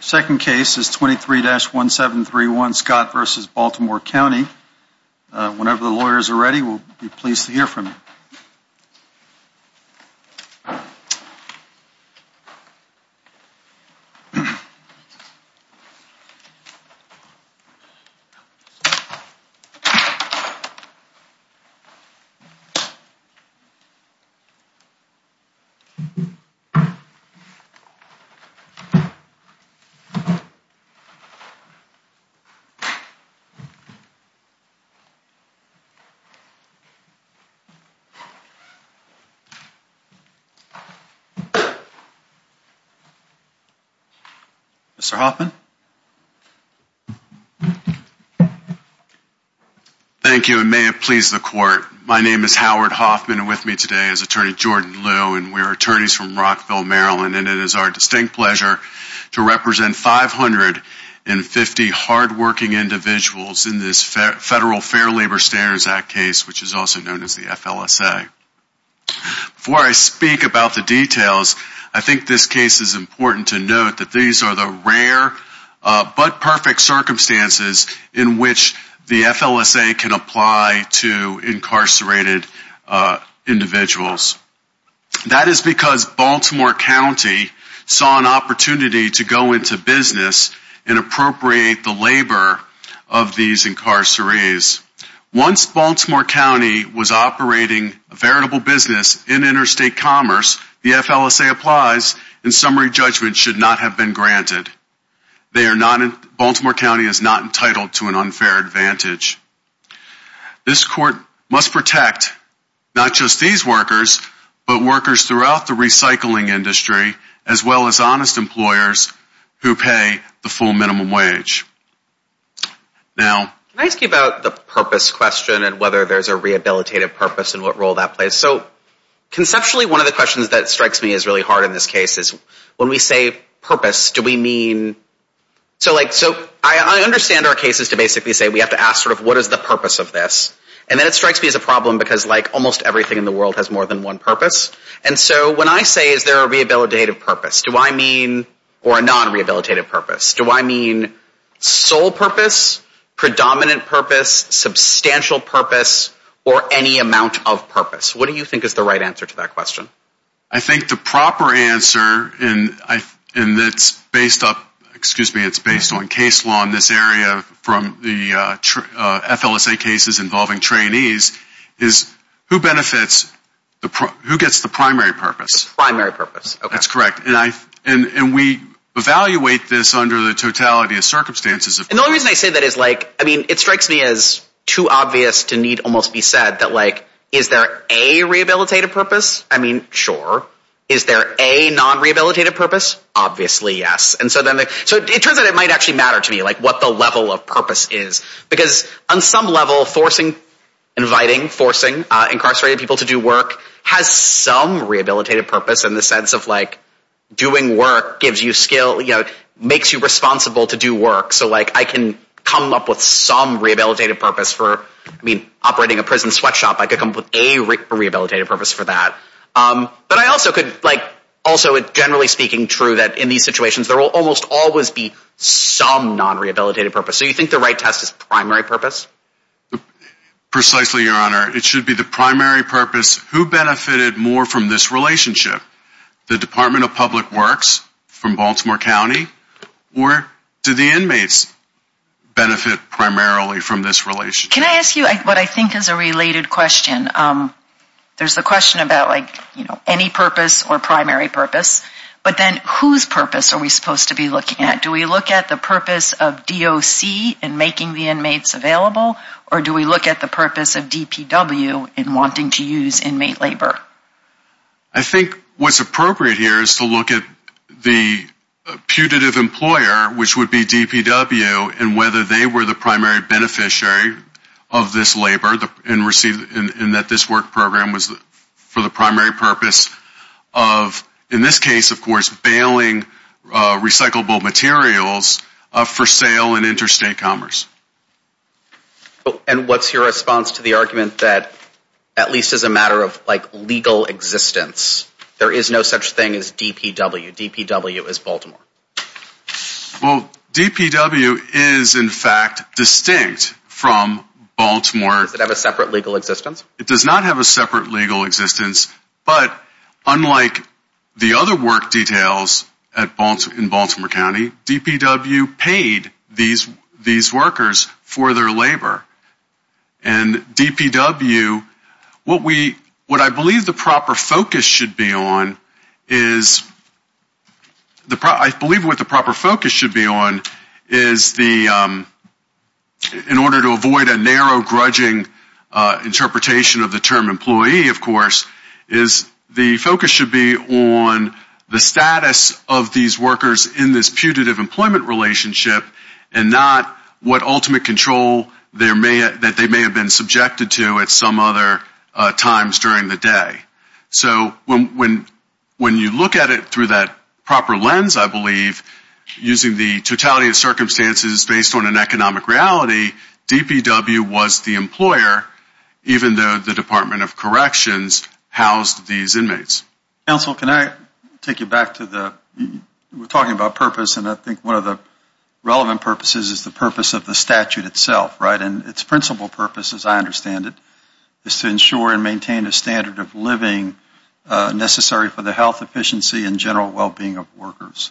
second case is 23-1731 Scott v. Baltimore County. Whenever the lawyers are ready, we'll be pleased to hear from you. Thank you. Mr. Hoffman. Thank you and may it please the court. My name is Howard Hoffman and with me today is attorney Jordan Liu and we are attorneys from Rockville, Maryland and it is our distinct pleasure to represent 550 hardworking individuals in this Federal Fair Labor Standards Act case which is also known as the FLSA. Before I speak about the details, I think this case is important to note that these are the rare but perfect circumstances in which the FLSA can apply to incarcerated individuals. That is because Baltimore County saw an opportunity to go into business and appropriate the labor of these incarcerated. Once Baltimore County was operating a veritable business in interstate commerce, the FLSA applies and summary judgment should not have been granted. Baltimore County is not entitled to an unfair advantage. This court must protect not just these workers but workers throughout the recycling industry as well as honest employers who pay the full minimum wage. Now, can I ask you about the purpose question and whether there's a rehabilitative purpose and what role that plays? So, conceptually, one of the questions that strikes me as really hard in this case is when we say purpose, do we mean so like so I understand our cases to basically say we have to ask sort of what is the purpose of this and then it strikes me as a problem because like almost everything in the world has more than one purpose and so when I say is there a rehabilitative purpose, do I mean or a non-rehabilitative purpose? Do I mean sole purpose, predominant purpose, substantial purpose, or any amount of purpose? What do you think is the right answer to that question? I think the proper answer and it's based on case law in this area from the FLSA cases involving trainees is who benefits, who gets the primary purpose? The primary purpose. That's correct. And we evaluate this under the totality of circumstances. And the only reason I say that is like, I mean, it strikes me as too obvious to need almost be said that like, is there a rehabilitative purpose? I mean, sure. Is there a non-rehabilitative purpose? Obviously, yes. And so then, so it turns out it might actually matter to me like what the level of purpose is because on some level, forcing, inviting, forcing incarcerated people to do work has some rehabilitative purpose in the sense of like doing work gives you skill, you know, makes you responsible to do work so like I can come up with some rehabilitative purpose for, I mean, operating a prison sweatshop. I could come up with a rehabilitative purpose for that. But I also could like, also generally speaking true that in these situations there will almost always be some non-rehabilitative purpose. So you think the right test is primary purpose? Precisely, Your Honor. It should be the primary purpose. Who benefited more from this relationship? The Department of Public Works from Baltimore County? Or do the inmates benefit primarily from this relationship? Can I ask you what I think is a related question? There's the question about like, you know, any purpose or primary purpose. But then whose purpose are we supposed to be looking at? Do we look at the purpose of DOC in making the inmates available? Or do we look at the purpose of DPW in wanting to use inmate labor? I think what's appropriate here is to look at the putative employer, which would be DPW, and whether they were the primary beneficiary of this labor and received, and that this work program was for the primary purpose of, in this case, of course, bailing recyclable materials for sale and interstate commerce. And what's your response to the argument that, at least as a matter of like legal existence, there is no such thing as DPW? DPW is Baltimore. Well, DPW is, in fact, distinct from Baltimore. Does it have a separate legal existence? It does not have a separate legal existence. But unlike the other work details in Baltimore County, DPW paid these workers for their labor. And DPW, what we, what I believe the proper focus should be on is, I believe what the proper focus should be on is the, in order to avoid a narrow, grudging interpretation of the term employee, of course, is the focus should be on the status of these workers in this putative employment relationship and not what ultimate control they're in. And there may, that they may have been subjected to at some other times during the day. So when you look at it through that proper lens, I believe, using the totality of circumstances based on an economic reality, DPW was the employer, even though the Department of Corrections housed these inmates. Counsel, can I take you back to the, we're talking about purpose, and I think one of the relevant purposes is the purpose of the statute itself, right? And its principal purpose, as I understand it, is to ensure and maintain a standard of living necessary for the health, efficiency, and general well-being of workers.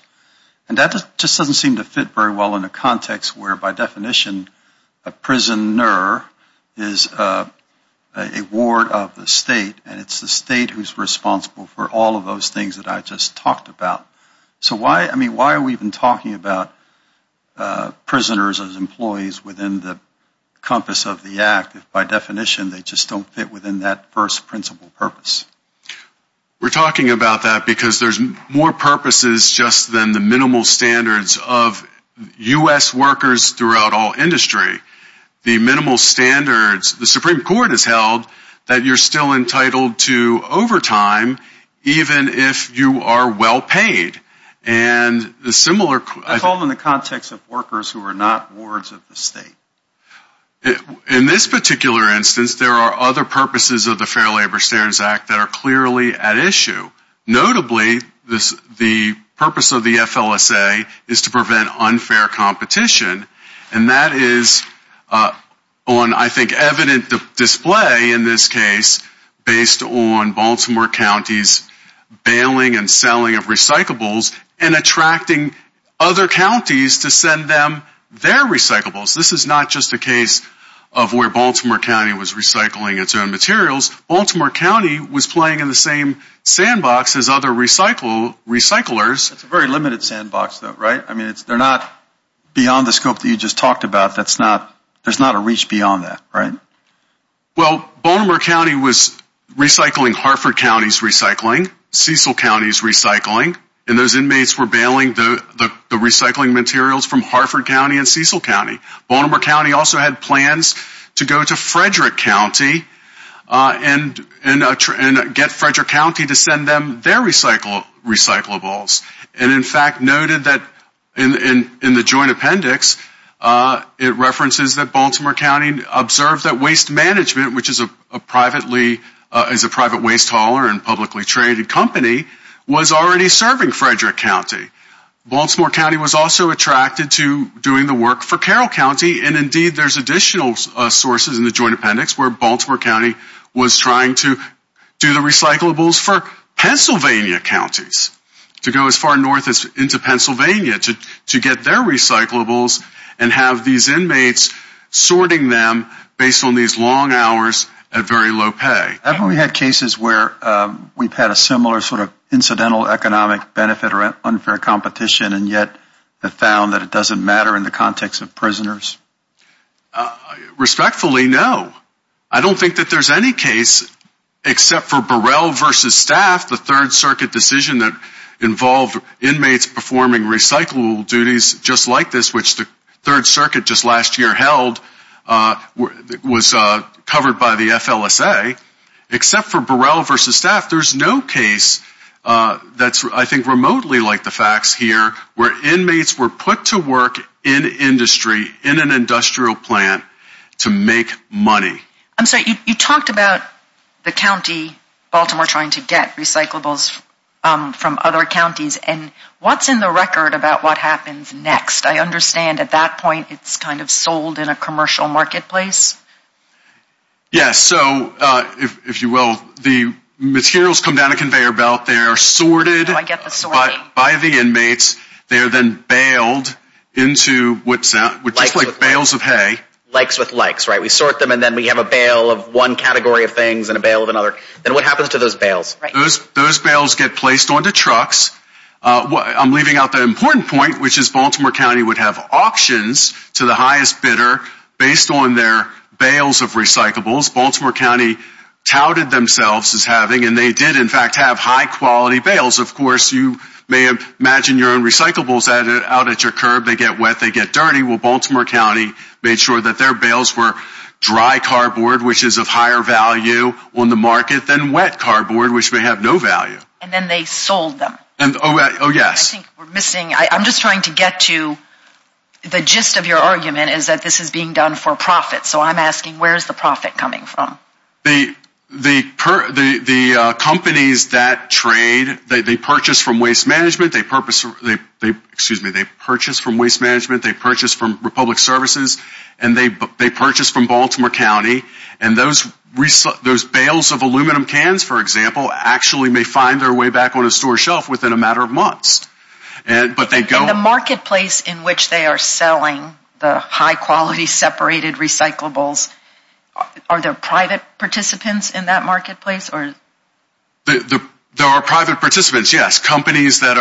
And that just doesn't seem to fit very well in a context where, by definition, a prisoner is a ward of the state, and it's the state who's responsible for all of those things that I just talked about. So why, I mean, why are we even talking about prisoners as employees within the compass of the act if, by definition, they just don't fit within that first principal purpose? We're talking about that because there's more purposes just than the minimal standards of U.S. workers throughout all industry. The minimal standards, the Supreme Court has held that you're still entitled to overtime even if you are well-paid. And the similar... I call them in the context of workers who are not wards of the state. In this particular instance, there are other purposes of the Fair Labor Standards Act that are clearly at issue. Notably, the purpose of the FLSA is to prevent unfair competition, and that is on, I think, evident display in this case based on Baltimore County's bailing and selling of recyclables and attracting other counties to send them their recyclables. This is not just a case of where Baltimore County was recycling its own materials. Baltimore County was playing in the same sandbox as other recyclers. It's a very limited sandbox, though, right? I mean, they're not beyond the scope that you just talked about. There's not a reach beyond that, right? Well, Baltimore County was recycling Hartford County's recycling, Cecil County's recycling, and those inmates were bailing the recycling materials from Hartford County and Cecil County. Baltimore County also had plans to go to Frederick County and get Frederick County to send them their recyclables. And, in fact, noted that in the joint appendix, it references that Baltimore County observed that Waste Management, which is a private waste hauler and publicly traded company, was already serving Frederick County. Baltimore County was also attracted to doing the work for Carroll County. And, indeed, there's additional sources in the joint appendix where Baltimore County was trying to do the recyclables for Pennsylvania counties, to go as far north as into Pennsylvania to get their recyclables and have these inmates sorting them based on these long hours at very low pay. Have we had cases where we've had a similar sort of incidental economic benefit or unfair competition and yet have found that it doesn't matter in the context of prisoners? Respectfully, no. I don't think that there's any case, except for Burrell v. Staff, the Third Circuit decision that involved inmates performing recyclable duties just like this, which the Third Circuit just last year held, was covered by the FLSA. Except for Burrell v. Staff, there's no case that's, I think, remotely like the facts here, where inmates were put to work in industry, in an industrial plant, to make money. I'm sorry, you talked about the county, Baltimore, trying to get recyclables from other counties. And what's in the record about what happens next? I understand at that point it's kind of sold in a commercial marketplace. Yes, so if you will, the materials come down a conveyor belt. They are sorted by the inmates. They are then bailed into what sounds like bails of hay. Likes with likes, right? We sort them and then we have a bail of one category of things and a bail of another. Then what happens to those bails? Those bails get placed onto trucks. I'm leaving out the important point, which is Baltimore County would have auctions to the highest bidder based on their bails of recyclables. Baltimore County touted themselves as having, and they did, in fact, have high-quality bails. Of course, you may imagine your own recyclables out at your curb. They get wet, they get dirty. Well, Baltimore County made sure that their bails were dry cardboard, which is of higher value on the market, than wet cardboard, which may have no value. And then they sold them. Oh, yes. I think we're missing, I'm just trying to get to the gist of your argument is that this is being done for profit. So I'm asking where is the profit coming from? The companies that trade, they purchase from waste management, they purchase from Republic Services, and they purchase from Baltimore County. And those bails of aluminum cans, for example, actually may find their way back on a store shelf within a matter of months. In the marketplace in which they are selling the high-quality separated recyclables, are there private participants in that marketplace? There are private participants, yes. Companies that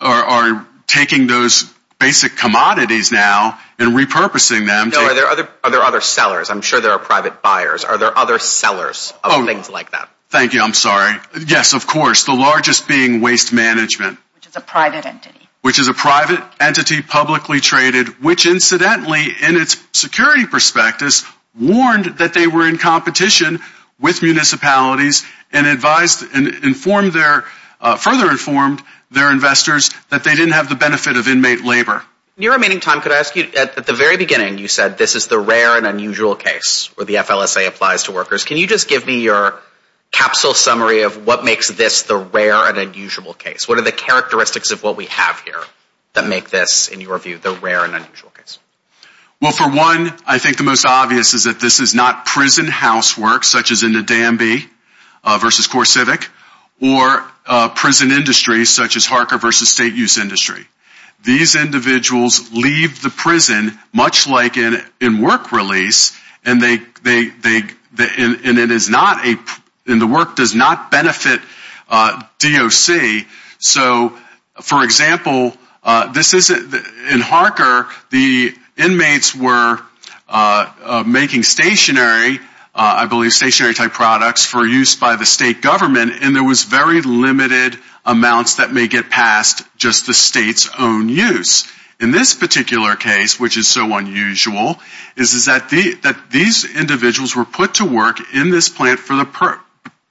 are taking those basic commodities now and repurposing them. Are there other sellers? I'm sure there are private buyers. Are there other sellers of things like that? Thank you. I'm sorry. Yes, of course. The largest being waste management. Which is a private entity. Which is a private entity, publicly traded, which incidentally, in its security prospectus, warned that they were in competition with municipalities, and advised and further informed their investors that they didn't have the benefit of inmate labor. In your remaining time, could I ask you, at the very beginning, you said this is the rare and unusual case where the FLSA applies to workers. Can you just give me your capsule summary of what makes this the rare and unusual case? What are the characteristics of what we have here that make this, in your view, the rare and unusual case? Well, for one, I think the most obvious is that this is not prison housework, such as in the Danby versus CoreCivic, or prison industry, such as Harker versus State Use Industry. These individuals leave the prison, much like in work release, and the work does not benefit DOC. So, for example, in Harker, the inmates were making stationary, I believe stationary-type products, for use by the state government, and there was very limited amounts that may get past just the state's own use. In this particular case, which is so unusual, is that these individuals were put to work in this plant for the purpose,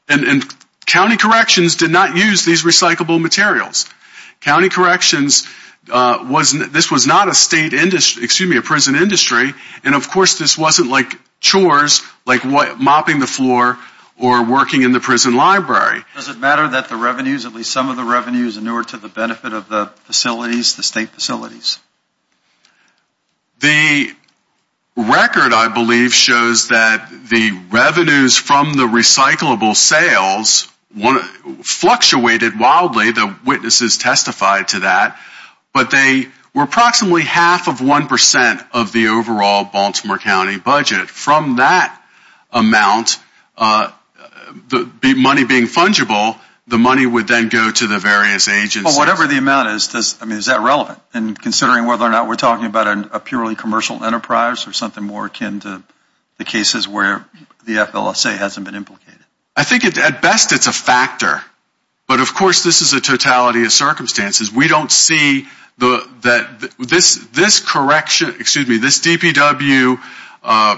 and county corrections did not use these recyclable materials. County corrections, this was not a state industry, excuse me, a prison industry, and of course this wasn't like chores, like mopping the floor or working in the prison library. Does it matter that the revenues, at least some of the revenues, are newer to the benefit of the facilities, the state facilities? The record, I believe, shows that the revenues from the recyclable sales fluctuated wildly. The witnesses testified to that. But they were approximately half of 1% of the overall Baltimore County budget. From that amount, the money being fungible, the money would then go to the various agencies. Well, whatever the amount is, is that relevant in considering whether or not we're talking about a purely commercial enterprise or something more akin to the cases where the FLSA hasn't been implicated? I think at best it's a factor, but of course this is a totality of circumstances. We don't see that this correction, excuse me, this DPW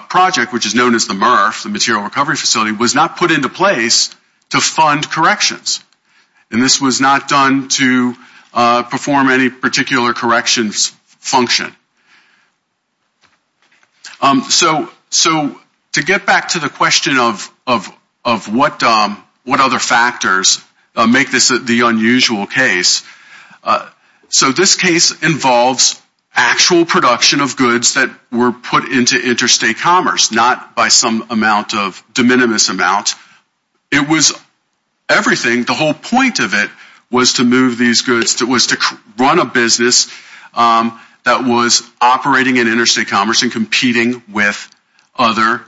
project, which is known as the MRF, the Material Recovery Facility, was not put into place to fund corrections, and this was not done to perform any particular corrections function. So to get back to the question of what other factors make this the unusual case, so this case involves actual production of goods that were put into interstate commerce, not by some amount of de minimis amount. The whole point of it was to run a business that was operating in interstate commerce and competing with other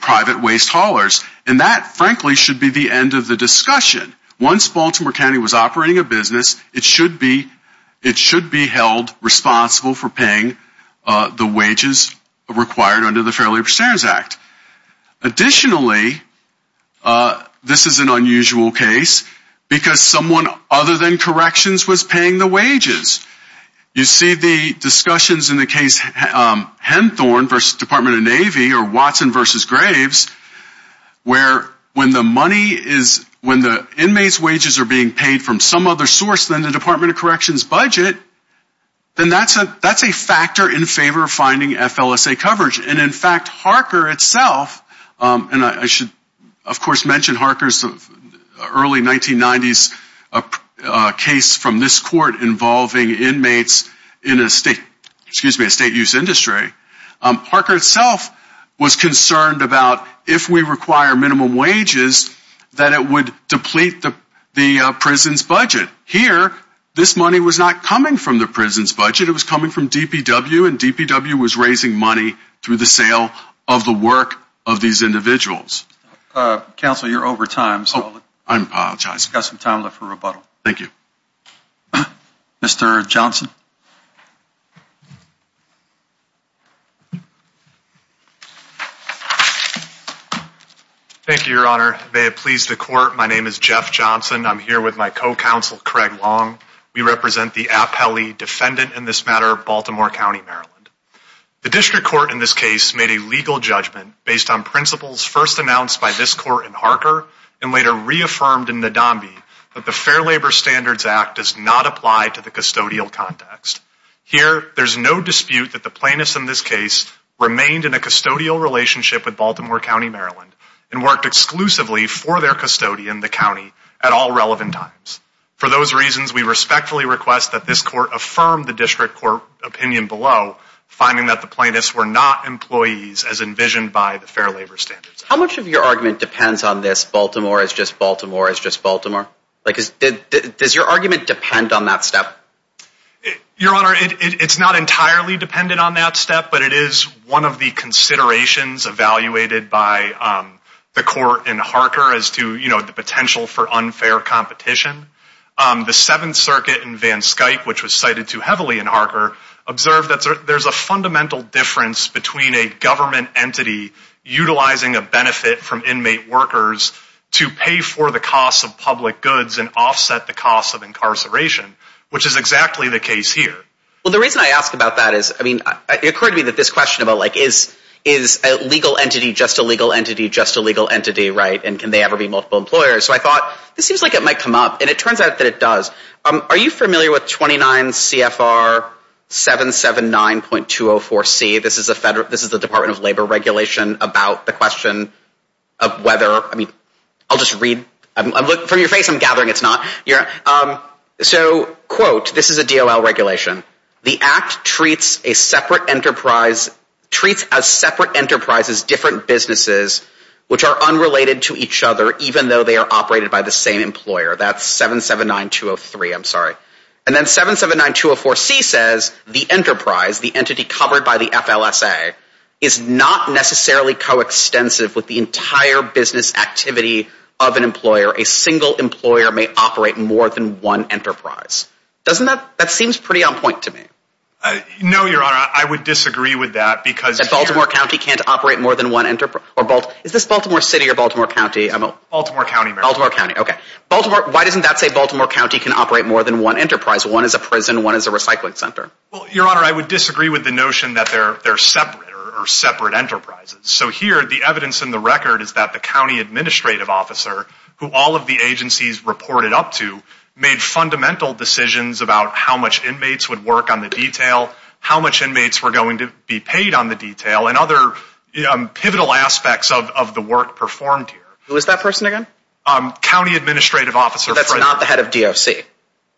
private waste haulers. And that, frankly, should be the end of the discussion. Once Baltimore County was operating a business, it should be held responsible for paying the wages required under the Fair Labor Standards Act. Additionally, this is an unusual case because someone other than corrections was paying the wages. You see the discussions in the case Henthorne v. Department of Navy or Watson v. Graves, where when the money is, when the inmates' wages are being paid from some other source than the Department of Corrections budget, then that's a factor in favor of finding FLSA coverage. And, in fact, Harker itself, and I should, of course, mention Harker's early 1990s case from this court involving inmates in a state, excuse me, a state-use industry. Harker itself was concerned about if we require minimum wages, that it would deplete the prison's budget. Here, this money was not coming from the prison's budget. It was coming from DPW, and DPW was raising money through the sale of the work of these individuals. Counsel, you're over time. Oh, I apologize. We've got some time left for rebuttal. Thank you. Mr. Johnson. Thank you, Your Honor. May it please the Court, my name is Jeff Johnson. I'm here with my co-counsel, Craig Long. We represent the appellee defendant in this matter, Baltimore County, Maryland. The district court in this case made a legal judgment based on principles first announced by this court in Harker and later reaffirmed in Nadambi that the Fair Labor Standards Act does not apply to the custodial context. Here, there's no dispute that the plaintiffs in this case remained in a custodial relationship with Baltimore County, Maryland, and worked exclusively for their custodian, the county, at all relevant times. For those reasons, we respectfully request that this court affirm the district court opinion below, finding that the plaintiffs were not employees as envisioned by the Fair Labor Standards Act. How much of your argument depends on this, Baltimore is just Baltimore is just Baltimore? Does your argument depend on that step? Your Honor, it's not entirely dependent on that step, but it is one of the considerations evaluated by the court in Harker as to the potential for unfair competition. The Seventh Circuit in Van Skyke, which was cited too heavily in Harker, observed that there's a fundamental difference between a government entity utilizing a benefit from inmate workers to pay for the cost of public goods and offset the cost of incarceration, which is exactly the case here. Well, the reason I ask about that is, I mean, it occurred to me that this question about, like, is a legal entity just a legal entity just a legal entity, right, and can they ever be multiple employers? So I thought, this seems like it might come up, and it turns out that it does. Are you familiar with 29 CFR 779.204C? This is the Department of Labor regulation about the question of whether, I mean, I'll just read. From your face, I'm gathering it's not. So, quote, this is a DOL regulation. The Act treats a separate enterprise, treats as separate enterprises different businesses, which are unrelated to each other even though they are operated by the same employer. That's 779.203, I'm sorry. And then 779.204C says the enterprise, the entity covered by the FLSA, is not necessarily coextensive with the entire business activity of an employer. A single employer may operate more than one enterprise. Doesn't that, that seems pretty on point to me. No, Your Honor, I would disagree with that because Baltimore County can't operate more than one enterprise. Is this Baltimore City or Baltimore County? Baltimore County, Mayor. Baltimore County, okay. Baltimore, why doesn't that say Baltimore County can operate more than one enterprise? One is a prison, one is a recycling center. Well, Your Honor, I would disagree with the notion that they're separate or separate enterprises. So here the evidence in the record is that the county administrative officer, who all of the agencies reported up to, made fundamental decisions about how much inmates would work on the detail, how much inmates were going to be paid on the detail, and other pivotal aspects of the work performed here. Who is that person again? County administrative officer. That's not the head of DOC.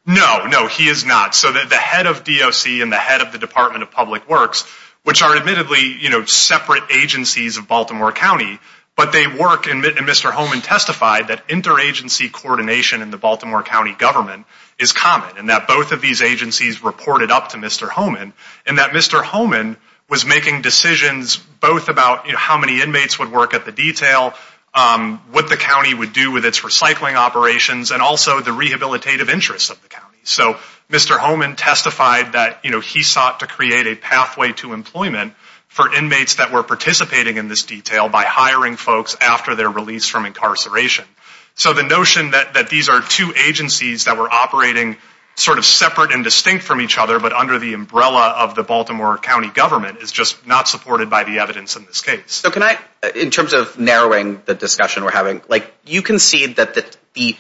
No, no, he is not. So the head of DOC and the head of the Department of Public Works, which are admittedly separate agencies of Baltimore County, but they work, and Mr. Homan testified, that interagency coordination in the Baltimore County government is common, and that both of these agencies reported up to Mr. Homan, and that Mr. Homan was making decisions both about how many inmates would work at the detail, what the county would do with its recycling operations, and also the rehabilitative interests of the county. So Mr. Homan testified that he sought to create a pathway to employment for inmates that were participating in this detail by hiring folks after their release from incarceration. So the notion that these are two agencies that were operating sort of separate and distinct from each other, but under the umbrella of the Baltimore County government, is just not supported by the evidence in this case. So can I, in terms of narrowing the discussion we're having, you concede that the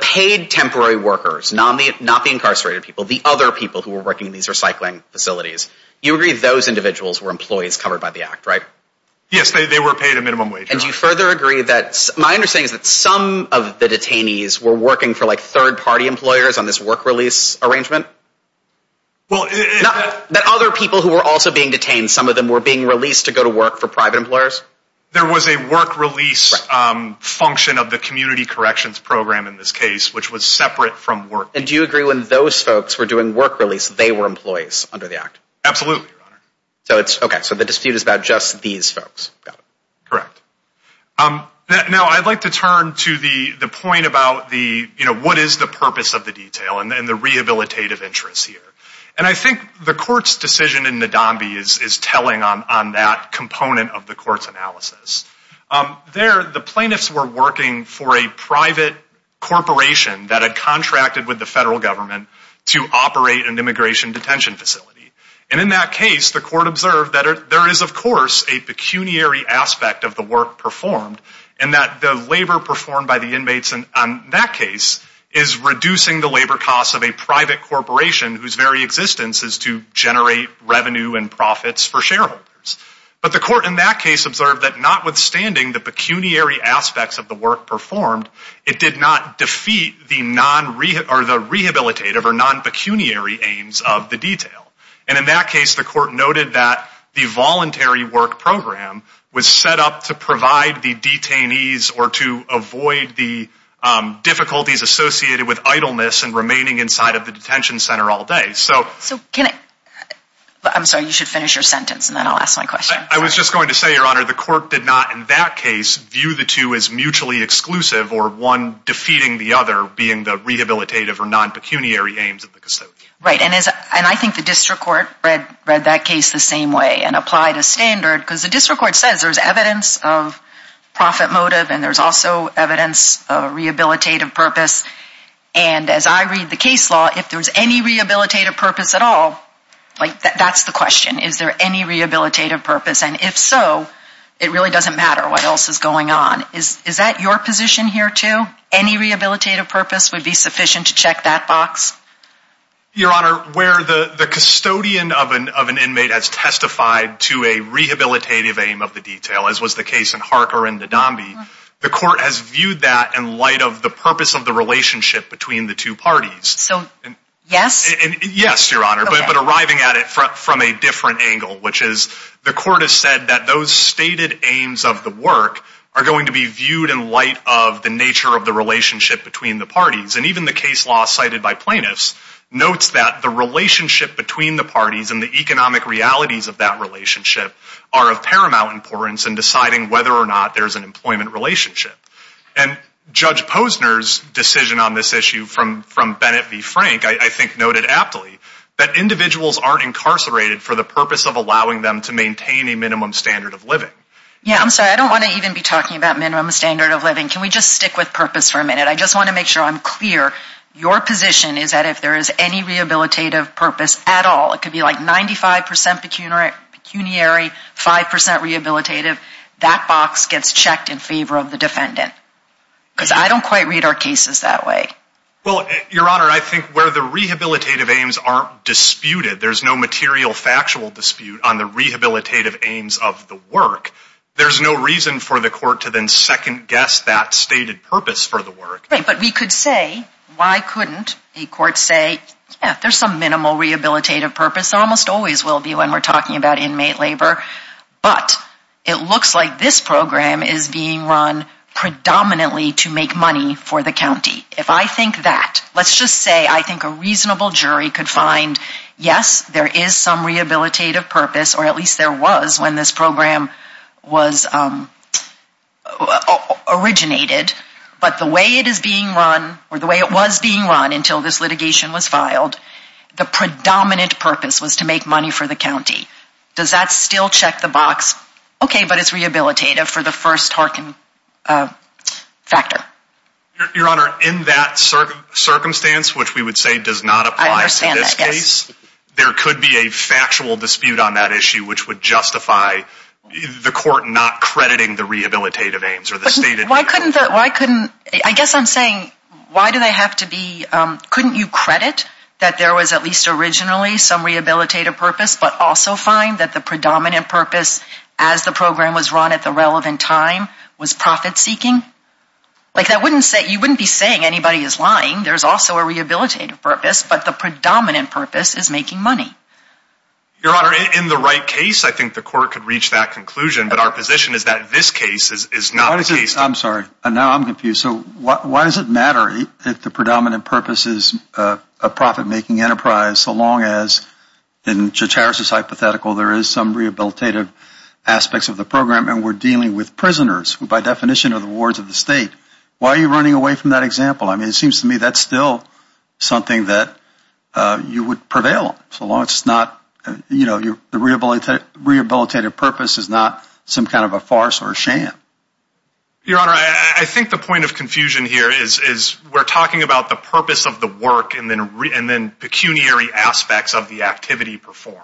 paid temporary workers, not the incarcerated people, the other people who were working in these recycling facilities, you agree those individuals were employees covered by the act, right? Yes, they were paid a minimum wage. And you further agree that, my understanding is that some of the detainees were working for third-party employers on this work release arrangement? That other people who were also being detained, some of them were being released to go to work for private employers? There was a work release function of the community corrections program in this case, which was separate from work release. And do you agree when those folks were doing work release, they were employees under the act? Absolutely, Your Honor. Okay, so the dispute is about just these folks. Correct. Now, I'd like to turn to the point about what is the purpose of the detail and the rehabilitative interests here. And I think the court's decision in Nadambi is telling on that component of the court's analysis. There, the plaintiffs were working for a private corporation that had contracted with the federal government to operate an immigration detention facility. And in that case, the court observed that there is, of course, a pecuniary aspect of the work performed, and that the labor performed by the inmates in that case is reducing the labor costs of a private corporation whose very existence is to generate revenue and profits for shareholders. But the court in that case observed that notwithstanding the pecuniary aspects of the work performed, it did not defeat the rehabilitative or non-pecuniary aims of the detail. And in that case, the court noted that the voluntary work program was set up to provide the detainees or to avoid the difficulties associated with idleness and remaining inside of the detention center all day. I'm sorry, you should finish your sentence, and then I'll ask my question. I was just going to say, Your Honor, the court did not, in that case, view the two as mutually exclusive or one defeating the other, being the rehabilitative or non-pecuniary aims of the custodian. Right, and I think the district court read that case the same way and applied a standard, because the district court says there's evidence of profit motive, and there's also evidence of rehabilitative purpose. And as I read the case law, if there's any rehabilitative purpose at all, that's the question. Is there any rehabilitative purpose? And if so, it really doesn't matter what else is going on. Is that your position here, too? Any rehabilitative purpose would be sufficient to check that box? Your Honor, where the custodian of an inmate has testified to a rehabilitative aim of the detail, as was the case in Harker and Nadambi, the court has viewed that in light of the purpose of the relationship between the two parties. So, yes? Yes, Your Honor, but arriving at it from a different angle, which is the court has said that those stated aims of the work are going to be viewed in light of the nature of the relationship between the parties. And even the case law cited by plaintiffs notes that the relationship between the parties and the economic realities of that relationship are of paramount importance in deciding whether or not there's an employment relationship. And Judge Posner's decision on this issue from Bennett v. Frank, I think noted aptly, that individuals aren't incarcerated for the purpose of allowing them to maintain a minimum standard of living. Yeah, I'm sorry. I don't want to even be talking about minimum standard of living. Can we just stick with purpose for a minute? I just want to make sure I'm clear. Your position is that if there is any rehabilitative purpose at all, it could be like 95% pecuniary, 5% rehabilitative, that box gets checked in favor of the defendant. Because I don't quite read our cases that way. Well, Your Honor, I think where the rehabilitative aims aren't disputed, there's no material factual dispute on the rehabilitative aims of the work, there's no reason for the court to then second-guess that stated purpose for the work. Right, but we could say, why couldn't a court say, yeah, there's some minimal rehabilitative purpose, almost always will be when we're talking about inmate labor, but it looks like this program is being run predominantly to make money for the county. If I think that, let's just say I think a reasonable jury could find, yes, there is some rehabilitative purpose, or at least there was when this program was originated, but the way it is being run, or the way it was being run until this litigation was filed, the predominant purpose was to make money for the county. Does that still check the box, okay, but it's rehabilitative for the first Harkin factor? Your Honor, in that circumstance, which we would say does not apply to this case, there could be a factual dispute on that issue, which would justify the court not crediting the rehabilitative aims. Why couldn't the, why couldn't, I guess I'm saying, why do they have to be, couldn't you credit that there was at least originally some rehabilitative purpose, but also find that the predominant purpose as the program was run at the relevant time was profit-seeking? Like that wouldn't say, you wouldn't be saying anybody is lying. There's also a rehabilitative purpose, but the predominant purpose is making money. Your Honor, in the right case, I think the court could reach that conclusion, but our position is that this case is not the case. I'm sorry, now I'm confused. So why does it matter if the predominant purpose is a profit-making enterprise so long as, in Judge Harris's hypothetical, there is some rehabilitative aspects of the program and we're dealing with prisoners, who by definition are the wards of the state. Why are you running away from that example? I mean, it seems to me that's still something that you would prevail on, so long as it's not, you know, Your Honor, I think the point of confusion here is we're talking about the purpose of the work and then pecuniary aspects of the activity performed.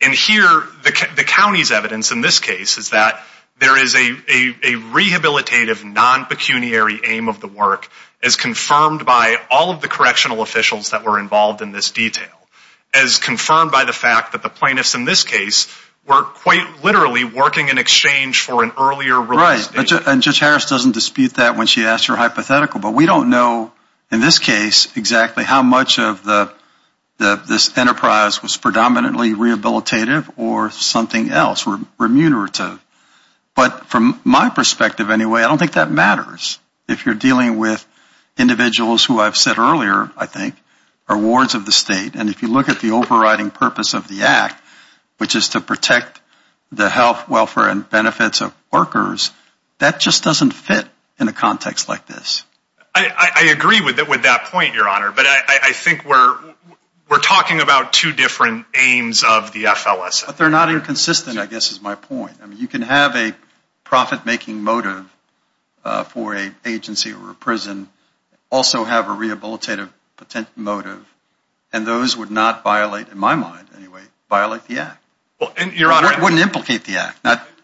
And here, the county's evidence in this case is that there is a rehabilitative, non-pecuniary aim of the work as confirmed by all of the correctional officials that were involved in this detail, as confirmed by the fact that the plaintiffs in this case were quite literally working in exchange for an earlier release date. Right, and Judge Harris doesn't dispute that when she asks her hypothetical, but we don't know, in this case, exactly how much of this enterprise was predominantly rehabilitative or something else, remunerative. But from my perspective anyway, I don't think that matters if you're dealing with individuals who I've said earlier, I think, are wards of the state. And if you look at the overriding purpose of the Act, which is to protect the health, welfare, and benefits of workers, that just doesn't fit in a context like this. I agree with that point, Your Honor, but I think we're talking about two different aims of the FLSA. But they're not inconsistent, I guess, is my point. You can have a profit-making motive for an agency or a prison, also have a rehabilitative motive, and those would not violate, in my mind anyway, violate the Act. It wouldn't implicate the Act.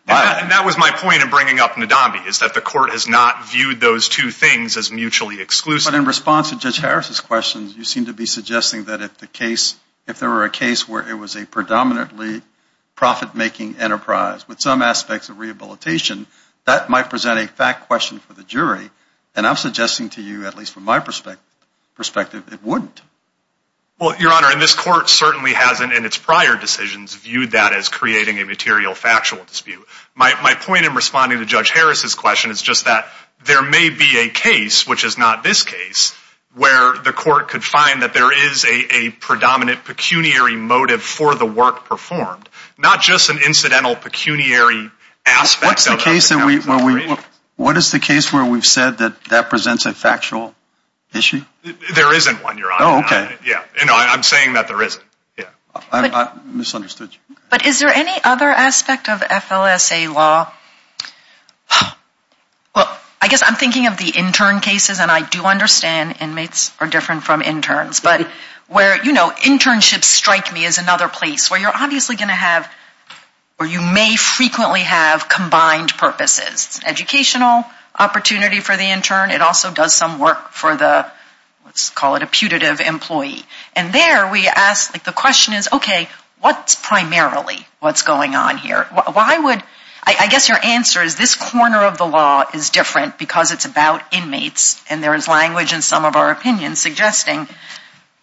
And that was my point in bringing up Nadambi, is that the Court has not viewed those two things as mutually exclusive. But in response to Judge Harris' questions, you seem to be suggesting that if there were a case where it was a predominantly profit-making enterprise with some aspects of rehabilitation, that might present a fact question for the jury. And I'm suggesting to you, at least from my perspective, it wouldn't. Well, Your Honor, and this Court certainly hasn't, in its prior decisions, viewed that as creating a material factual dispute. My point in responding to Judge Harris' question is just that there may be a case, which is not this case, where the Court could find that there is a predominant pecuniary motive for the work performed, not just an incidental pecuniary aspect of rehabilitation. What is the case where we've said that that presents a factual issue? There isn't one, Your Honor. Oh, okay. And I'm saying that there isn't. I misunderstood you. But is there any other aspect of FLSA law? Well, I guess I'm thinking of the intern cases, and I do understand inmates are different from interns. But where, you know, internships strike me as another place where you're obviously going to have, or you may frequently have, combined purposes. It's an educational opportunity for the intern. It also does some work for the, let's call it a putative employee. And there we ask, like, the question is, okay, what's primarily what's going on here? Why would, I guess your answer is this corner of the law is different because it's about inmates, and there is language in some of our opinions suggesting,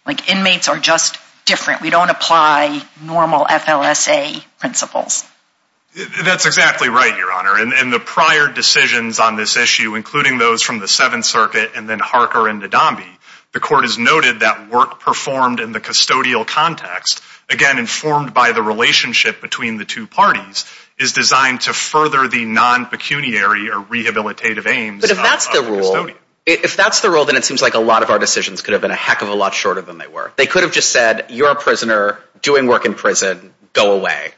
like, inmates are just different. We don't apply normal FLSA principles. That's exactly right, Your Honor. And the prior decisions on this issue, including those from the Seventh Circuit and then Harker and Ndambi, the court has noted that work performed in the custodial context, again, informed by the relationship between the two parties, is designed to further the non-pecuniary or rehabilitative aims of the custodian. But if that's the rule, then it seems like a lot of our decisions could have been a heck of a lot shorter than they were. They could have just said, you're a prisoner doing work in prison. Go away.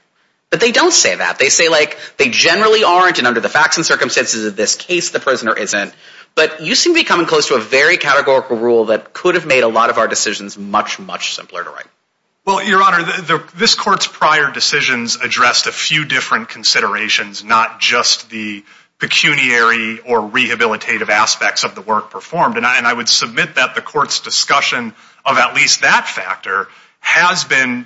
But they don't say that. They say, like, they generally aren't, and under the facts and circumstances of this case, the prisoner isn't. But you seem to be coming close to a very categorical rule that could have made a lot of our decisions much, much simpler to write. Well, Your Honor, this court's prior decisions addressed a few different considerations, not just the pecuniary or rehabilitative aspects of the work performed. And I would submit that the court's discussion of at least that factor has been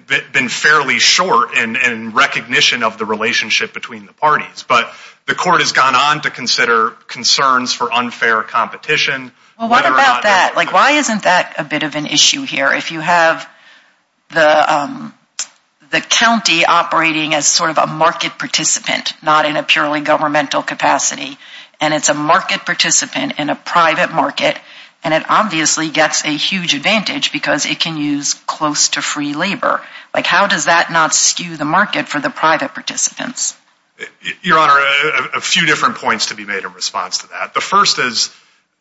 fairly short in recognition of the relationship between the parties. But the court has gone on to consider concerns for unfair competition. Well, what about that? Like, why isn't that a bit of an issue here? If you have the county operating as sort of a market participant, not in a purely governmental capacity, and it's a market participant in a private market, and it obviously gets a huge advantage because it can use close to free labor. Like, how does that not skew the market for the private participants? Your Honor, a few different points to be made in response to that. The first is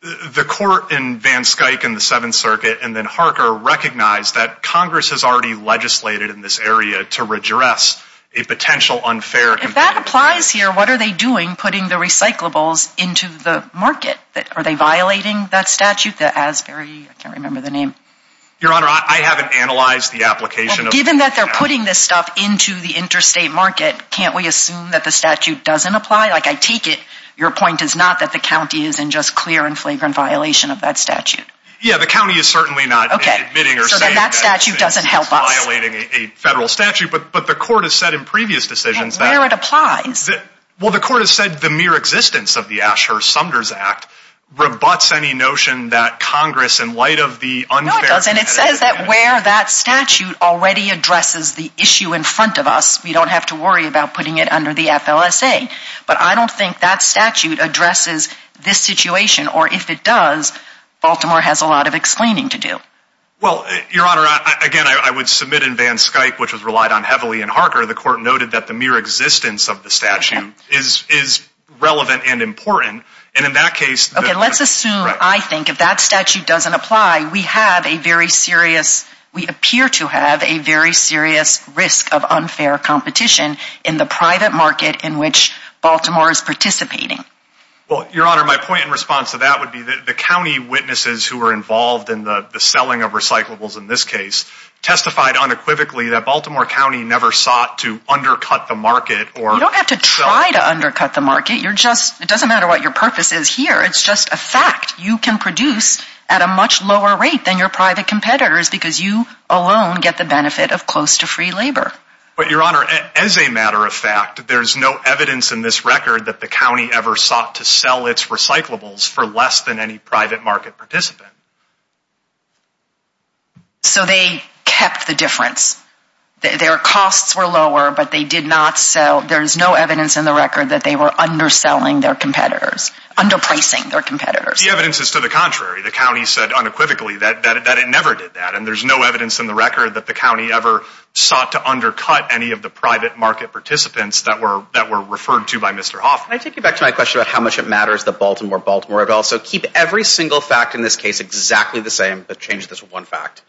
the court in Van Skuyk in the Seventh Circuit and then Harker recognized that Congress has already legislated in this area to redress a potential unfair competition. If that applies here, what are they doing putting the recyclables into the market? Are they violating that statute? The Asbury, I can't remember the name. Your Honor, I haven't analyzed the application of that statute. Well, given that they're putting this stuff into the interstate market, can't we assume that the statute doesn't apply? Like, I take it your point is not that the county is in just clear and flagrant violation of that statute. Yeah, the county is certainly not admitting or saying that it's violating a federal statute. But the court has said in previous decisions that... And where it applies. Well, the court has said the mere existence of the Asher-Sumders Act rebuts any notion that Congress, in light of the unfair... No, it doesn't. It says that where that statute already addresses the issue in front of us. We don't have to worry about putting it under the FLSA. But I don't think that statute addresses this situation, or if it does, Baltimore has a lot of explaining to do. Well, Your Honor, again, I would submit in Van Skuyk, which was relied on heavily in Harker, the court noted that the mere existence of the statute is relevant and important. And in that case... Okay, let's assume, I think, if that statute doesn't apply, we have a very serious, we appear to have a very serious risk of unfair competition in the private market in which Baltimore is participating. Well, Your Honor, my point in response to that would be that the county witnesses who were involved in the selling of recyclables in this case testified unequivocally that Baltimore County never sought to undercut the market or... You don't have to try to undercut the market. It doesn't matter what your purpose is here. It's just a fact. You can produce at a much lower rate than your private competitors because you alone get the benefit of close to free labor. But, Your Honor, as a matter of fact, there's no evidence in this record that the county ever sought to sell its recyclables for less than any private market participant. So they kept the difference. Their costs were lower, but they did not sell... There's no evidence in the record that they were underselling their competitors, underpricing their competitors. The evidence is to the contrary. The county said unequivocally that it never did that. And there's no evidence in the record that the county ever sought to undercut any of the private market participants that were referred to by Mr. Hoffman. Can I take you back to my question about how much it matters that Baltimore Baltimore? So keep every single fact in this case exactly the same, but change this one fact.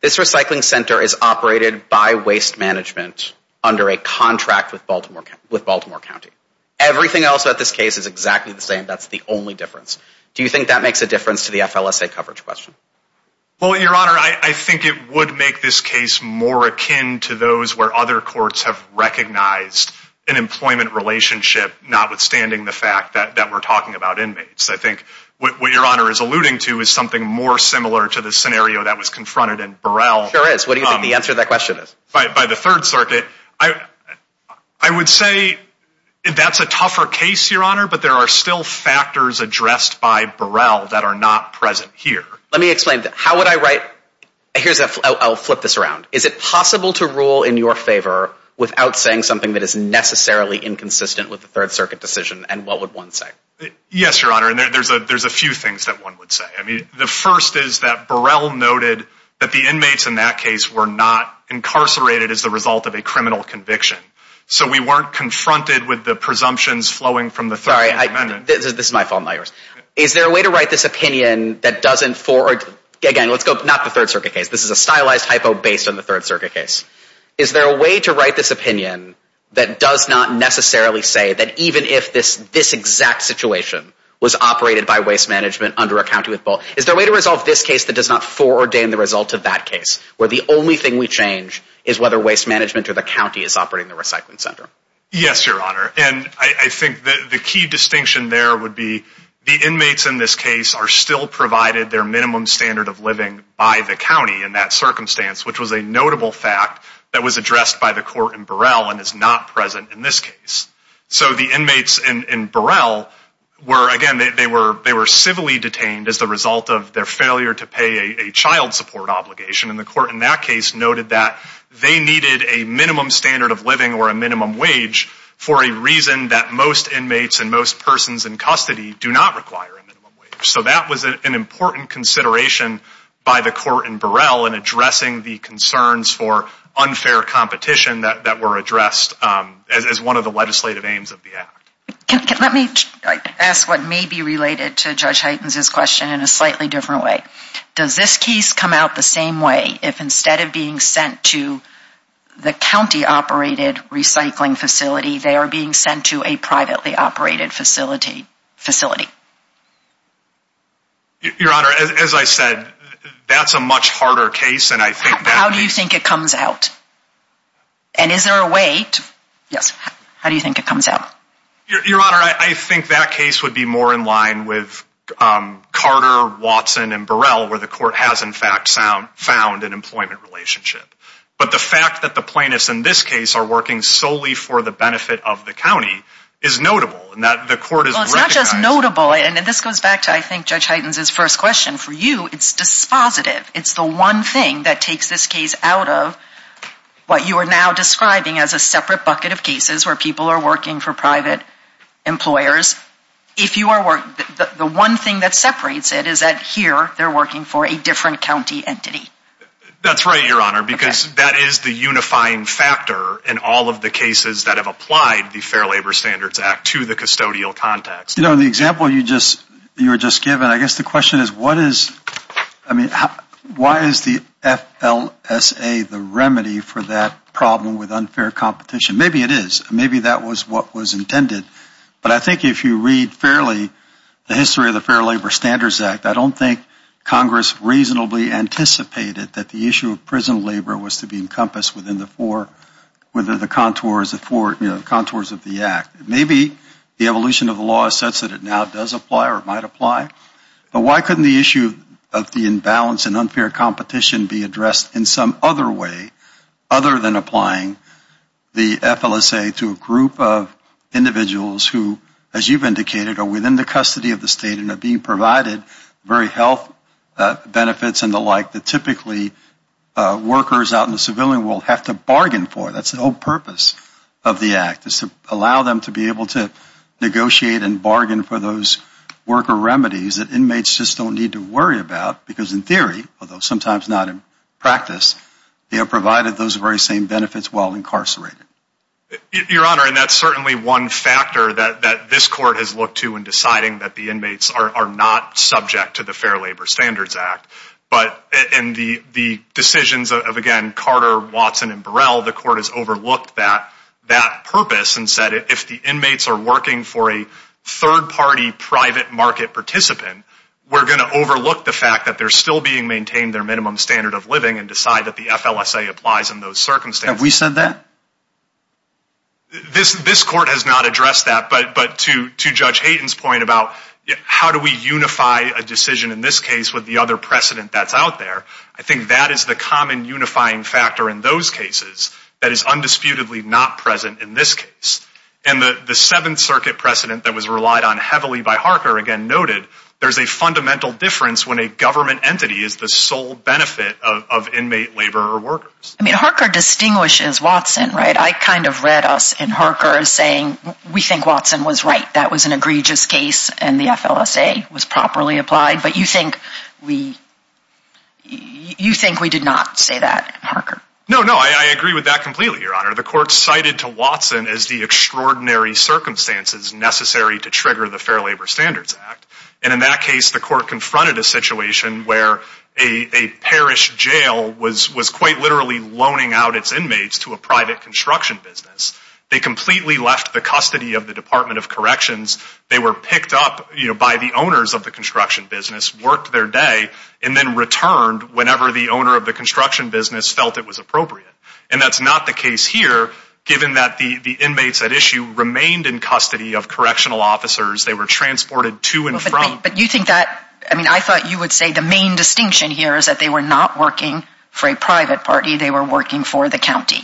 This recycling center is operated by waste management under a contract with Baltimore County. Everything else about this case is exactly the same. That's the only difference. Do you think that makes a difference to the FLSA coverage question? Well, Your Honor, I think it would make this case more akin to those where other courts have recognized an employment relationship, notwithstanding the fact that we're talking about inmates. I think what Your Honor is alluding to is something more similar to the scenario that was confronted in Burrell. Sure is. What do you think the answer to that question is? By the Third Circuit. I would say that's a tougher case, Your Honor, but there are still factors addressed by Burrell that are not present here. Let me explain. How would I write... Here's... I'll flip this around. Is it possible to rule in your favor without saying something that is necessarily inconsistent with the Third Circuit decision, and what would one say? Yes, Your Honor, and there's a few things that one would say. I mean, the first is that Burrell noted that the inmates in that case were not incarcerated as a result of a criminal conviction. So we weren't confronted with the presumptions flowing from the Third Circuit. Sorry, this is my fault, not yours. Is there a way to write this opinion that doesn't... Again, let's go... not the Third Circuit case. This is a stylized hypo based on the Third Circuit case. Is there a way to write this opinion that does not necessarily say that even if this exact situation was operated by Waste Management under a county with both... Is there a way to resolve this case that does not foreordain the result of that case, where the only thing we change is whether Waste Management or the county is operating the recycling center? Yes, Your Honor, and I think the key distinction there would be the inmates in this case are still provided their minimum standard of living by the county in that circumstance, which was a notable fact that was addressed by the court in Burrell and is not present in this case. So the inmates in Burrell were... Again, they were civilly detained as a result of their failure to pay a child support obligation, and the court in that case noted that they needed a minimum standard of living or a minimum wage for a reason that most inmates and most persons in custody do not require a minimum wage. So that was an important consideration by the court in Burrell in addressing the concerns for unfair competition that were addressed as one of the legislative aims of the act. Let me ask what may be related to Judge Heitens' question in a slightly different way. Does this case come out the same way if instead of being sent to the county-operated recycling facility, they are being sent to a privately-operated facility? Your Honor, as I said, that's a much harder case, and I think that... And is there a way to... Yes. How do you think it comes out? Your Honor, I think that case would be more in line with Carter, Watson, and Burrell, where the court has, in fact, found an employment relationship. But the fact that the plaintiffs in this case are working solely for the benefit of the county is notable, and the court has recognized... Well, it's not just notable, and this goes back to, I think, Judge Heitens' first question. For you, it's dispositive. It's the one thing that takes this case out of what you are now describing as a separate bucket of cases where people are working for private employers. If you are... The one thing that separates it is that here, they're working for a different county entity. That's right, Your Honor, because that is the unifying factor in all of the cases that have applied the Fair Labor Standards Act to the custodial context. You know, in the example you were just given, I guess the question is, why is the FLSA the remedy for that problem with unfair competition? Maybe it is. Maybe that was what was intended. But I think if you read fairly the history of the Fair Labor Standards Act, I don't think Congress reasonably anticipated that the issue of prison labor was to be encompassed within the four contours of the act. Maybe the evolution of the law says that it now does apply or might apply. But why couldn't the issue of the imbalance and unfair competition be addressed in some other way other than applying the FLSA to a group of individuals who, as you've indicated, are within the custody of the state and are being provided very health benefits and the like that typically workers out in the civilian world have to bargain for? That's the whole purpose of the act is to allow them to be able to negotiate and bargain for those worker remedies that inmates just don't need to worry about because in theory, although sometimes not in practice, they are provided those very same benefits while incarcerated. Your Honor, and that's certainly one factor that this court has looked to in deciding that the inmates are not subject to the Fair Labor Standards Act. But in the decisions of, again, Carter, Watson, and Burrell, the court has overlooked that purpose and said if the inmates are working for a third-party private market participant, we're going to overlook the fact that they're still being maintained their minimum standard of living and decide that the FLSA applies in those circumstances. Have we said that? This court has not addressed that. But to Judge Hayden's point about how do we unify a decision in this case with the other precedent that's out there, I think that is the common unifying factor in those cases that is undisputedly not present in this case. And the Seventh Circuit precedent that was relied on heavily by Harker, again noted, there's a fundamental difference when a government entity is the sole benefit of inmate labor or workers. I mean, Harker distinguishes Watson, right? I kind of read us in Harker as saying we think Watson was right. That was an egregious case and the FLSA was properly applied. But you think we did not say that, Harker? No, no, I agree with that completely, Your Honor. The court cited to Watson as the extraordinary circumstances necessary to trigger the Fair Labor Standards Act. And in that case, the court confronted a situation where a parish jail was quite literally loaning out its inmates to a private construction business. They completely left the custody of the Department of Corrections. They were picked up by the owners of the construction business, worked their day, and then returned whenever the owner of the construction business felt it was appropriate. And that's not the case here, given that the inmates at issue remained in custody of correctional officers. They were transported to and from. But you think that, I mean, I thought you would say the main distinction here is that they were not working for a private party. They were working for the county.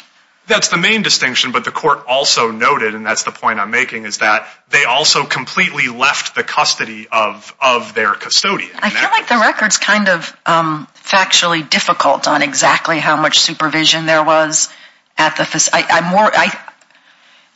That's the main distinction. But the court also noted, and that's the point I'm making, is that they also completely left the custody of their custodian. I feel like the record's kind of factually difficult on exactly how much supervision there was at the facility.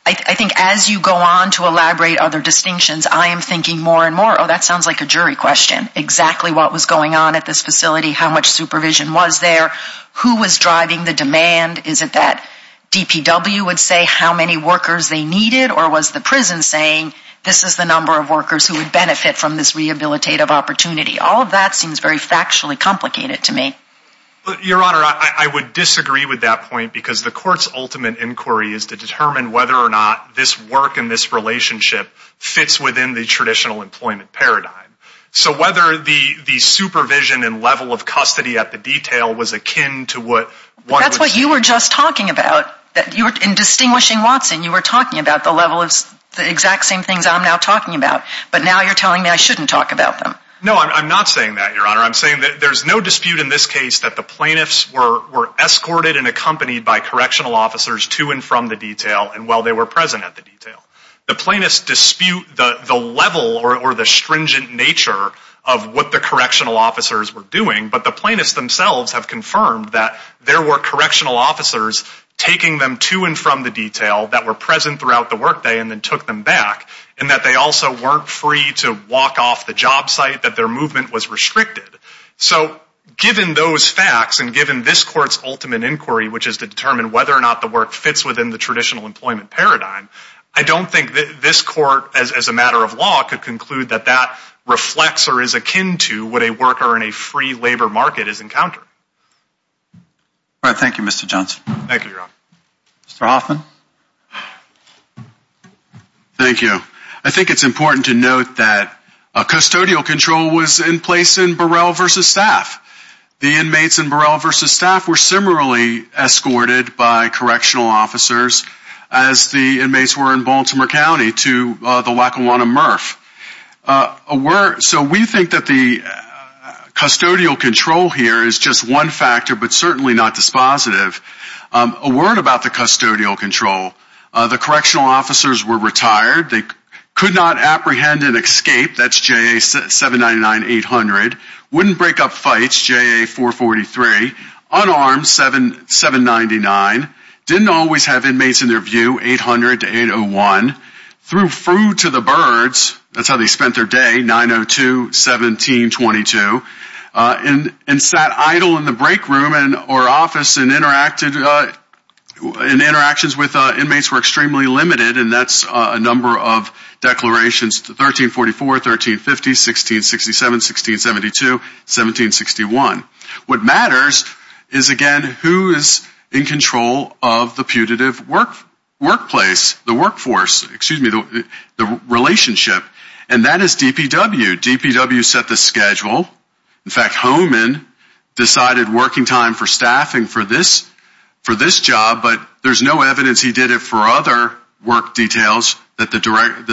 I think as you go on to elaborate other distinctions, I am thinking more and more, oh, that sounds like a jury question, exactly what was going on at this facility, how much supervision was there, who was driving the demand. Is it that DPW would say how many workers they needed, or was the prison saying this is the number of workers who would benefit from this rehabilitative opportunity? All of that seems very factually complicated to me. Your Honor, I would disagree with that point because the court's ultimate inquiry is to determine whether or not this work and this relationship fits within the traditional employment paradigm. So whether the supervision and level of custody at the detail was akin to what one would say. That's what you were just talking about. In distinguishing Watson, you were talking about the level of the exact same things I'm now talking about. But now you're telling me I shouldn't talk about them. No, I'm not saying that, Your Honor. I'm saying that there's no dispute in this case that the plaintiffs were escorted and accompanied by correctional officers to and from the detail and while they were present at the detail. The plaintiffs dispute the level or the stringent nature of what the correctional officers were doing, but the plaintiffs themselves have confirmed that there were correctional officers taking them to and from the detail that were present throughout the workday and then took them back, and that they also weren't free to walk off the job site, that their movement was restricted. So given those facts and given this Court's ultimate inquiry, which is to determine whether or not the work fits within the traditional employment paradigm, I don't think this Court, as a matter of law, could conclude that that reflects or is akin to what a worker in a free labor market has encountered. All right. Thank you, Mr. Johnson. Thank you, Your Honor. Mr. Hoffman. Thank you. I think it's important to note that custodial control was in place in Burrell versus Staff. The inmates in Burrell versus Staff were similarly escorted by correctional officers as the inmates were in Baltimore County to the Lackawanna MRF. So we think that the custodial control here is just one factor, but certainly not dispositive. A word about the custodial control. The correctional officers were retired. They could not apprehend and escape. That's JA 799-800. Wouldn't break up fights, JA 443. Unarmed, 799. Didn't always have inmates in their view, 800-801. Threw food to the birds. That's how they spent their day, 902-1722. And sat idle in the break room or office in interactions with inmates were extremely limited, and that's a number of declarations, 1344, 1350, 1667, 1672, 1761. What matters is, again, who is in control of the putative workplace, the workforce, excuse me, the relationship. And that is DPW. DPW set the schedule. In fact, Homan decided working time for staffing for this job, but there's no evidence he did it for other work details that the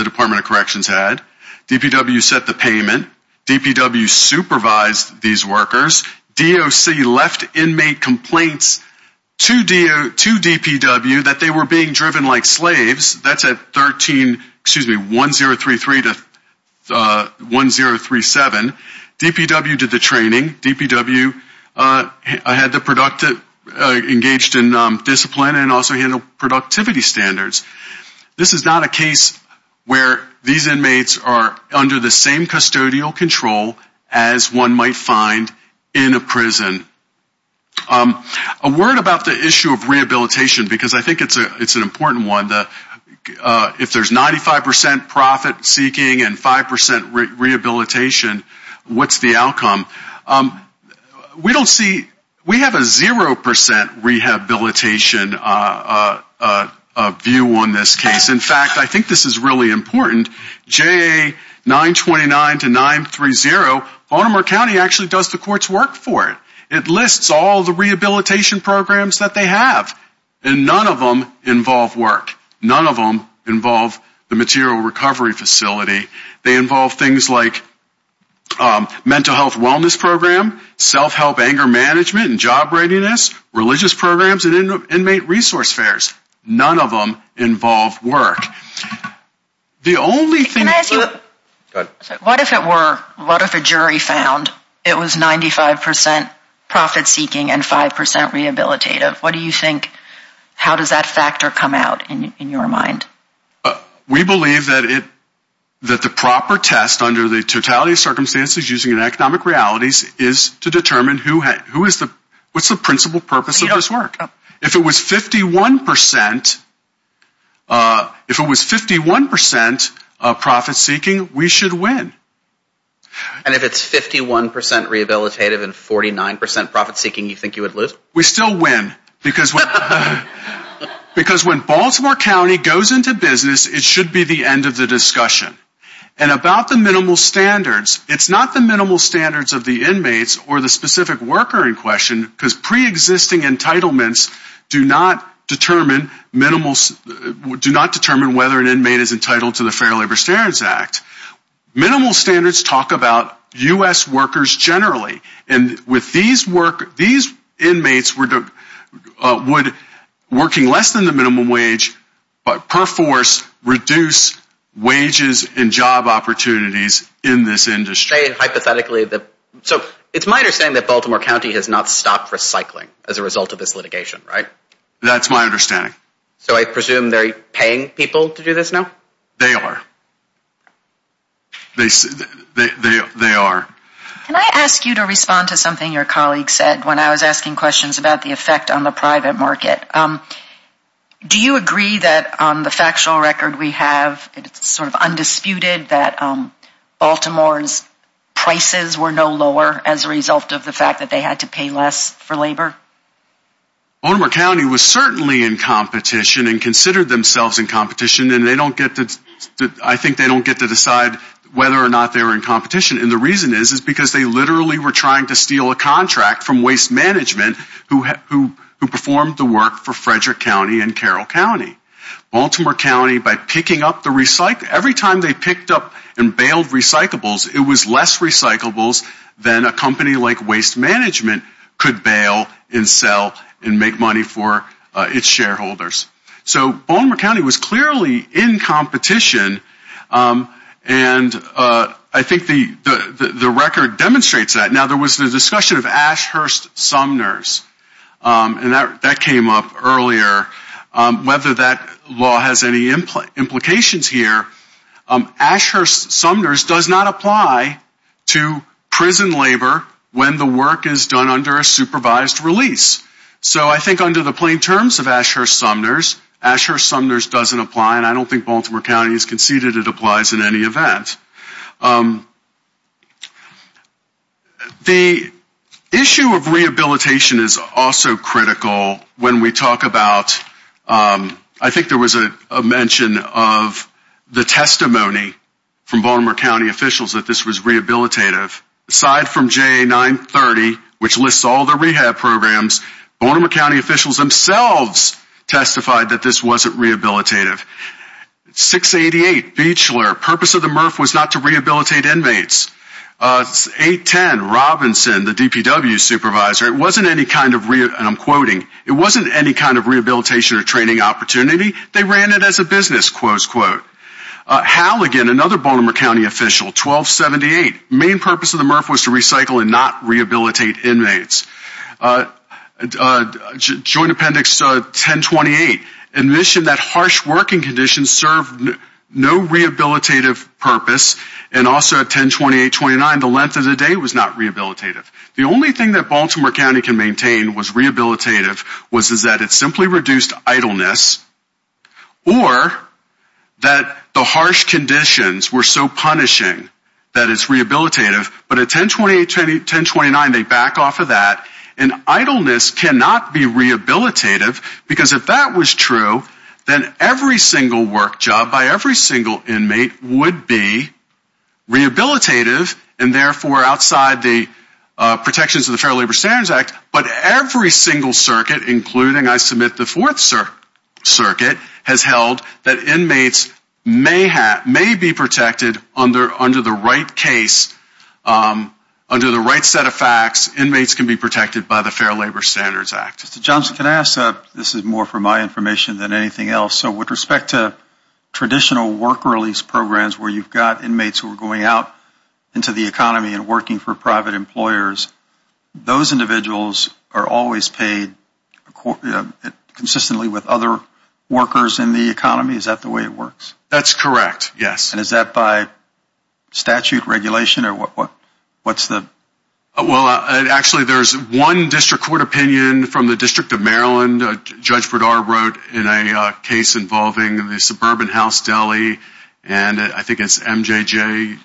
Department of Corrections had. DPW set the payment. DPW supervised these workers. DOC left inmate complaints to DPW that they were being driven like slaves. That's at 13, excuse me, 1033 to 1037. DPW did the training. DPW engaged in discipline and also handled productivity standards. This is not a case where these inmates are under the same custodial control as one might find in a prison. A word about the issue of rehabilitation, because I think it's an important one, if there's 95% profit seeking and 5% rehabilitation, what's the outcome? We don't see we have a 0% rehabilitation view on this case. In fact, I think this is really important. JA 929 to 930, Baltimore County actually does the court's work for it. It lists all the rehabilitation programs that they have. And none of them involve work. None of them involve the material recovery facility. They involve things like mental health wellness program, self-help anger management and job readiness, religious programs, and inmate resource fairs. None of them involve work. What if it were, what if a jury found it was 95% profit seeking and 5% rehabilitative? What do you think, how does that factor come out in your mind? We believe that the proper test under the totality of circumstances using economic realities is to determine what's the principal purpose of this work. If it was 51% profit seeking, we should win. And if it's 51% rehabilitative and 49% profit seeking, you think you would lose? We still win. Because when Baltimore County goes into business, it should be the end of the discussion. And about the minimal standards, it's not the minimal standards of the inmates or the specific worker in question, because preexisting entitlements do not determine whether an inmate is entitled to the Fair Labor Standards Act. Minimal standards talk about U.S. workers generally. These inmates working less than the minimum wage per force reduce wages and job opportunities in this industry. So it's my understanding that Baltimore County has not stopped recycling as a result of this litigation, right? That's my understanding. So I presume they're paying people to do this now? They are. They are. Can I ask you to respond to something your colleague said when I was asking questions about the effect on the private market? Do you agree that on the factual record we have, it's sort of undisputed, that Baltimore's prices were no lower as a result of the fact that they had to pay less for labor? Baltimore County was certainly in competition and considered themselves in competition, and I think they don't get to decide whether or not they were in competition. And the reason is because they literally were trying to steal a contract from waste management who performed the work for Frederick County and Carroll County. Baltimore County, by picking up the recycle, every time they picked up and bailed recyclables, it was less recyclables than a company like Waste Management could bail and sell and make money for its shareholders. So Baltimore County was clearly in competition, and I think the record demonstrates that. Now, there was the discussion of Ashurst-Sumners, and that came up earlier. Whether that law has any implications here, Ashurst-Sumners does not apply to prison labor when the work is done under a supervised release. So I think under the plain terms of Ashurst-Sumners, Ashurst-Sumners doesn't apply, and I don't think Baltimore County has conceded it applies in any event. The issue of rehabilitation is also critical when we talk about, I think there was a mention of the testimony from Baltimore County officials that this was rehabilitative. Aside from JA 930, which lists all the rehab programs, Baltimore County officials themselves testified that this wasn't rehabilitative. 688, Beachler, purpose of the MRF was not to rehabilitate inmates. 810, Robinson, the DPW supervisor, it wasn't any kind of, and I'm quoting, it wasn't any kind of rehabilitation or training opportunity. They ran it as a business, quote, unquote. Halligan, another Baltimore County official, 1278, main purpose of the MRF was to recycle and not rehabilitate inmates. Joint Appendix 1028, admission that harsh working conditions served no rehabilitative purpose, and also at 1028-29, the length of the day was not rehabilitative. The only thing that Baltimore County can maintain was rehabilitative was that it simply reduced idleness, or that the harsh conditions were so punishing that it's rehabilitative, but at 1028-1029, they back off of that, and idleness cannot be rehabilitative because if that was true, then every single work job by every single inmate would be rehabilitative, and therefore outside the protections of the Fair Labor Standards Act, but every single circuit, including, I submit, the Fourth Circuit, has held that inmates may be protected under the right case under the right set of facts, inmates can be protected by the Fair Labor Standards Act. Mr. Johnson, can I ask, this is more for my information than anything else, so with respect to traditional work release programs where you've got inmates who are going out into the economy and working for private employers, those individuals are always paid consistently with other workers in the economy? Is that the way it works? That's correct, yes. And is that by statute, regulation, or what's the? Well, actually, there's one district court opinion from the District of Maryland, Judge Brodar wrote in a case involving the suburban house deli, and I think it's MJJ,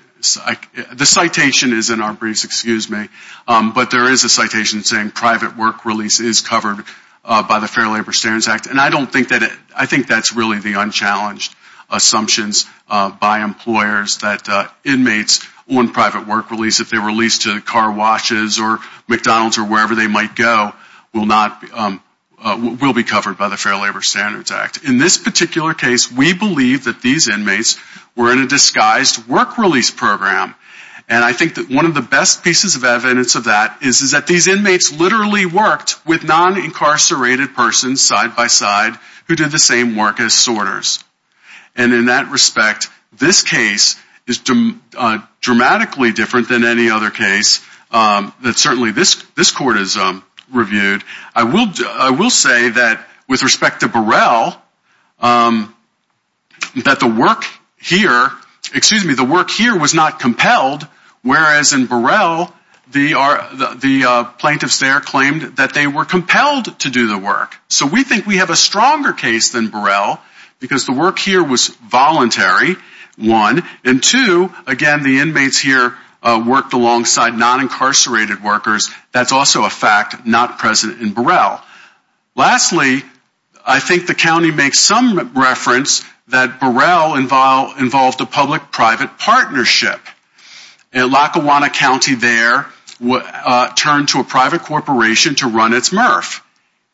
the citation is in our briefs, excuse me, but there is a citation saying private work release is covered by the Fair Labor Standards Act, and I think that's really the unchallenged assumptions by employers that inmates on private work release, if they're released to car washes or McDonald's or wherever they might go, will be covered by the Fair Labor Standards Act. In this particular case, we believe that these inmates were in a disguised work release program, and I think that one of the best pieces of evidence of that is that these inmates literally worked with non-incarcerated persons side by side who did the same work as sorters. And in that respect, this case is dramatically different than any other case that certainly this court has reviewed. I will say that with respect to Burrell, that the work here, excuse me, the work here was not compelled, whereas in Burrell, the plaintiffs there claimed that they were compelled to do the work. So we think we have a stronger case than Burrell because the work here was voluntary, one. And two, again, the inmates here worked alongside non-incarcerated workers. That's also a fact not present in Burrell. Lastly, I think the county makes some reference that Burrell involved a public-private partnership. Lackawanna County there turned to a private corporation to run its MRF.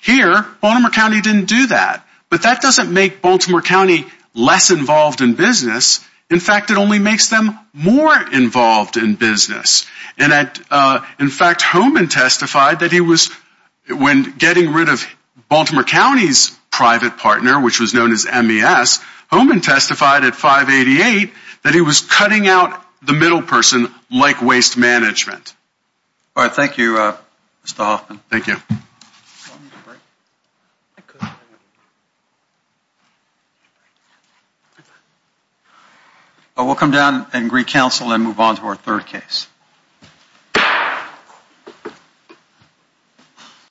Here, Baltimore County didn't do that. But that doesn't make Baltimore County less involved in business. In fact, it only makes them more involved in business. In fact, Holman testified that he was, when getting rid of Baltimore County's private partner, which was known as MES, Holman testified at 588 that he was cutting out the middle person like waste management. All right, thank you, Mr. Hoffman. Thank you. We'll come down and recouncil and move on to our third case.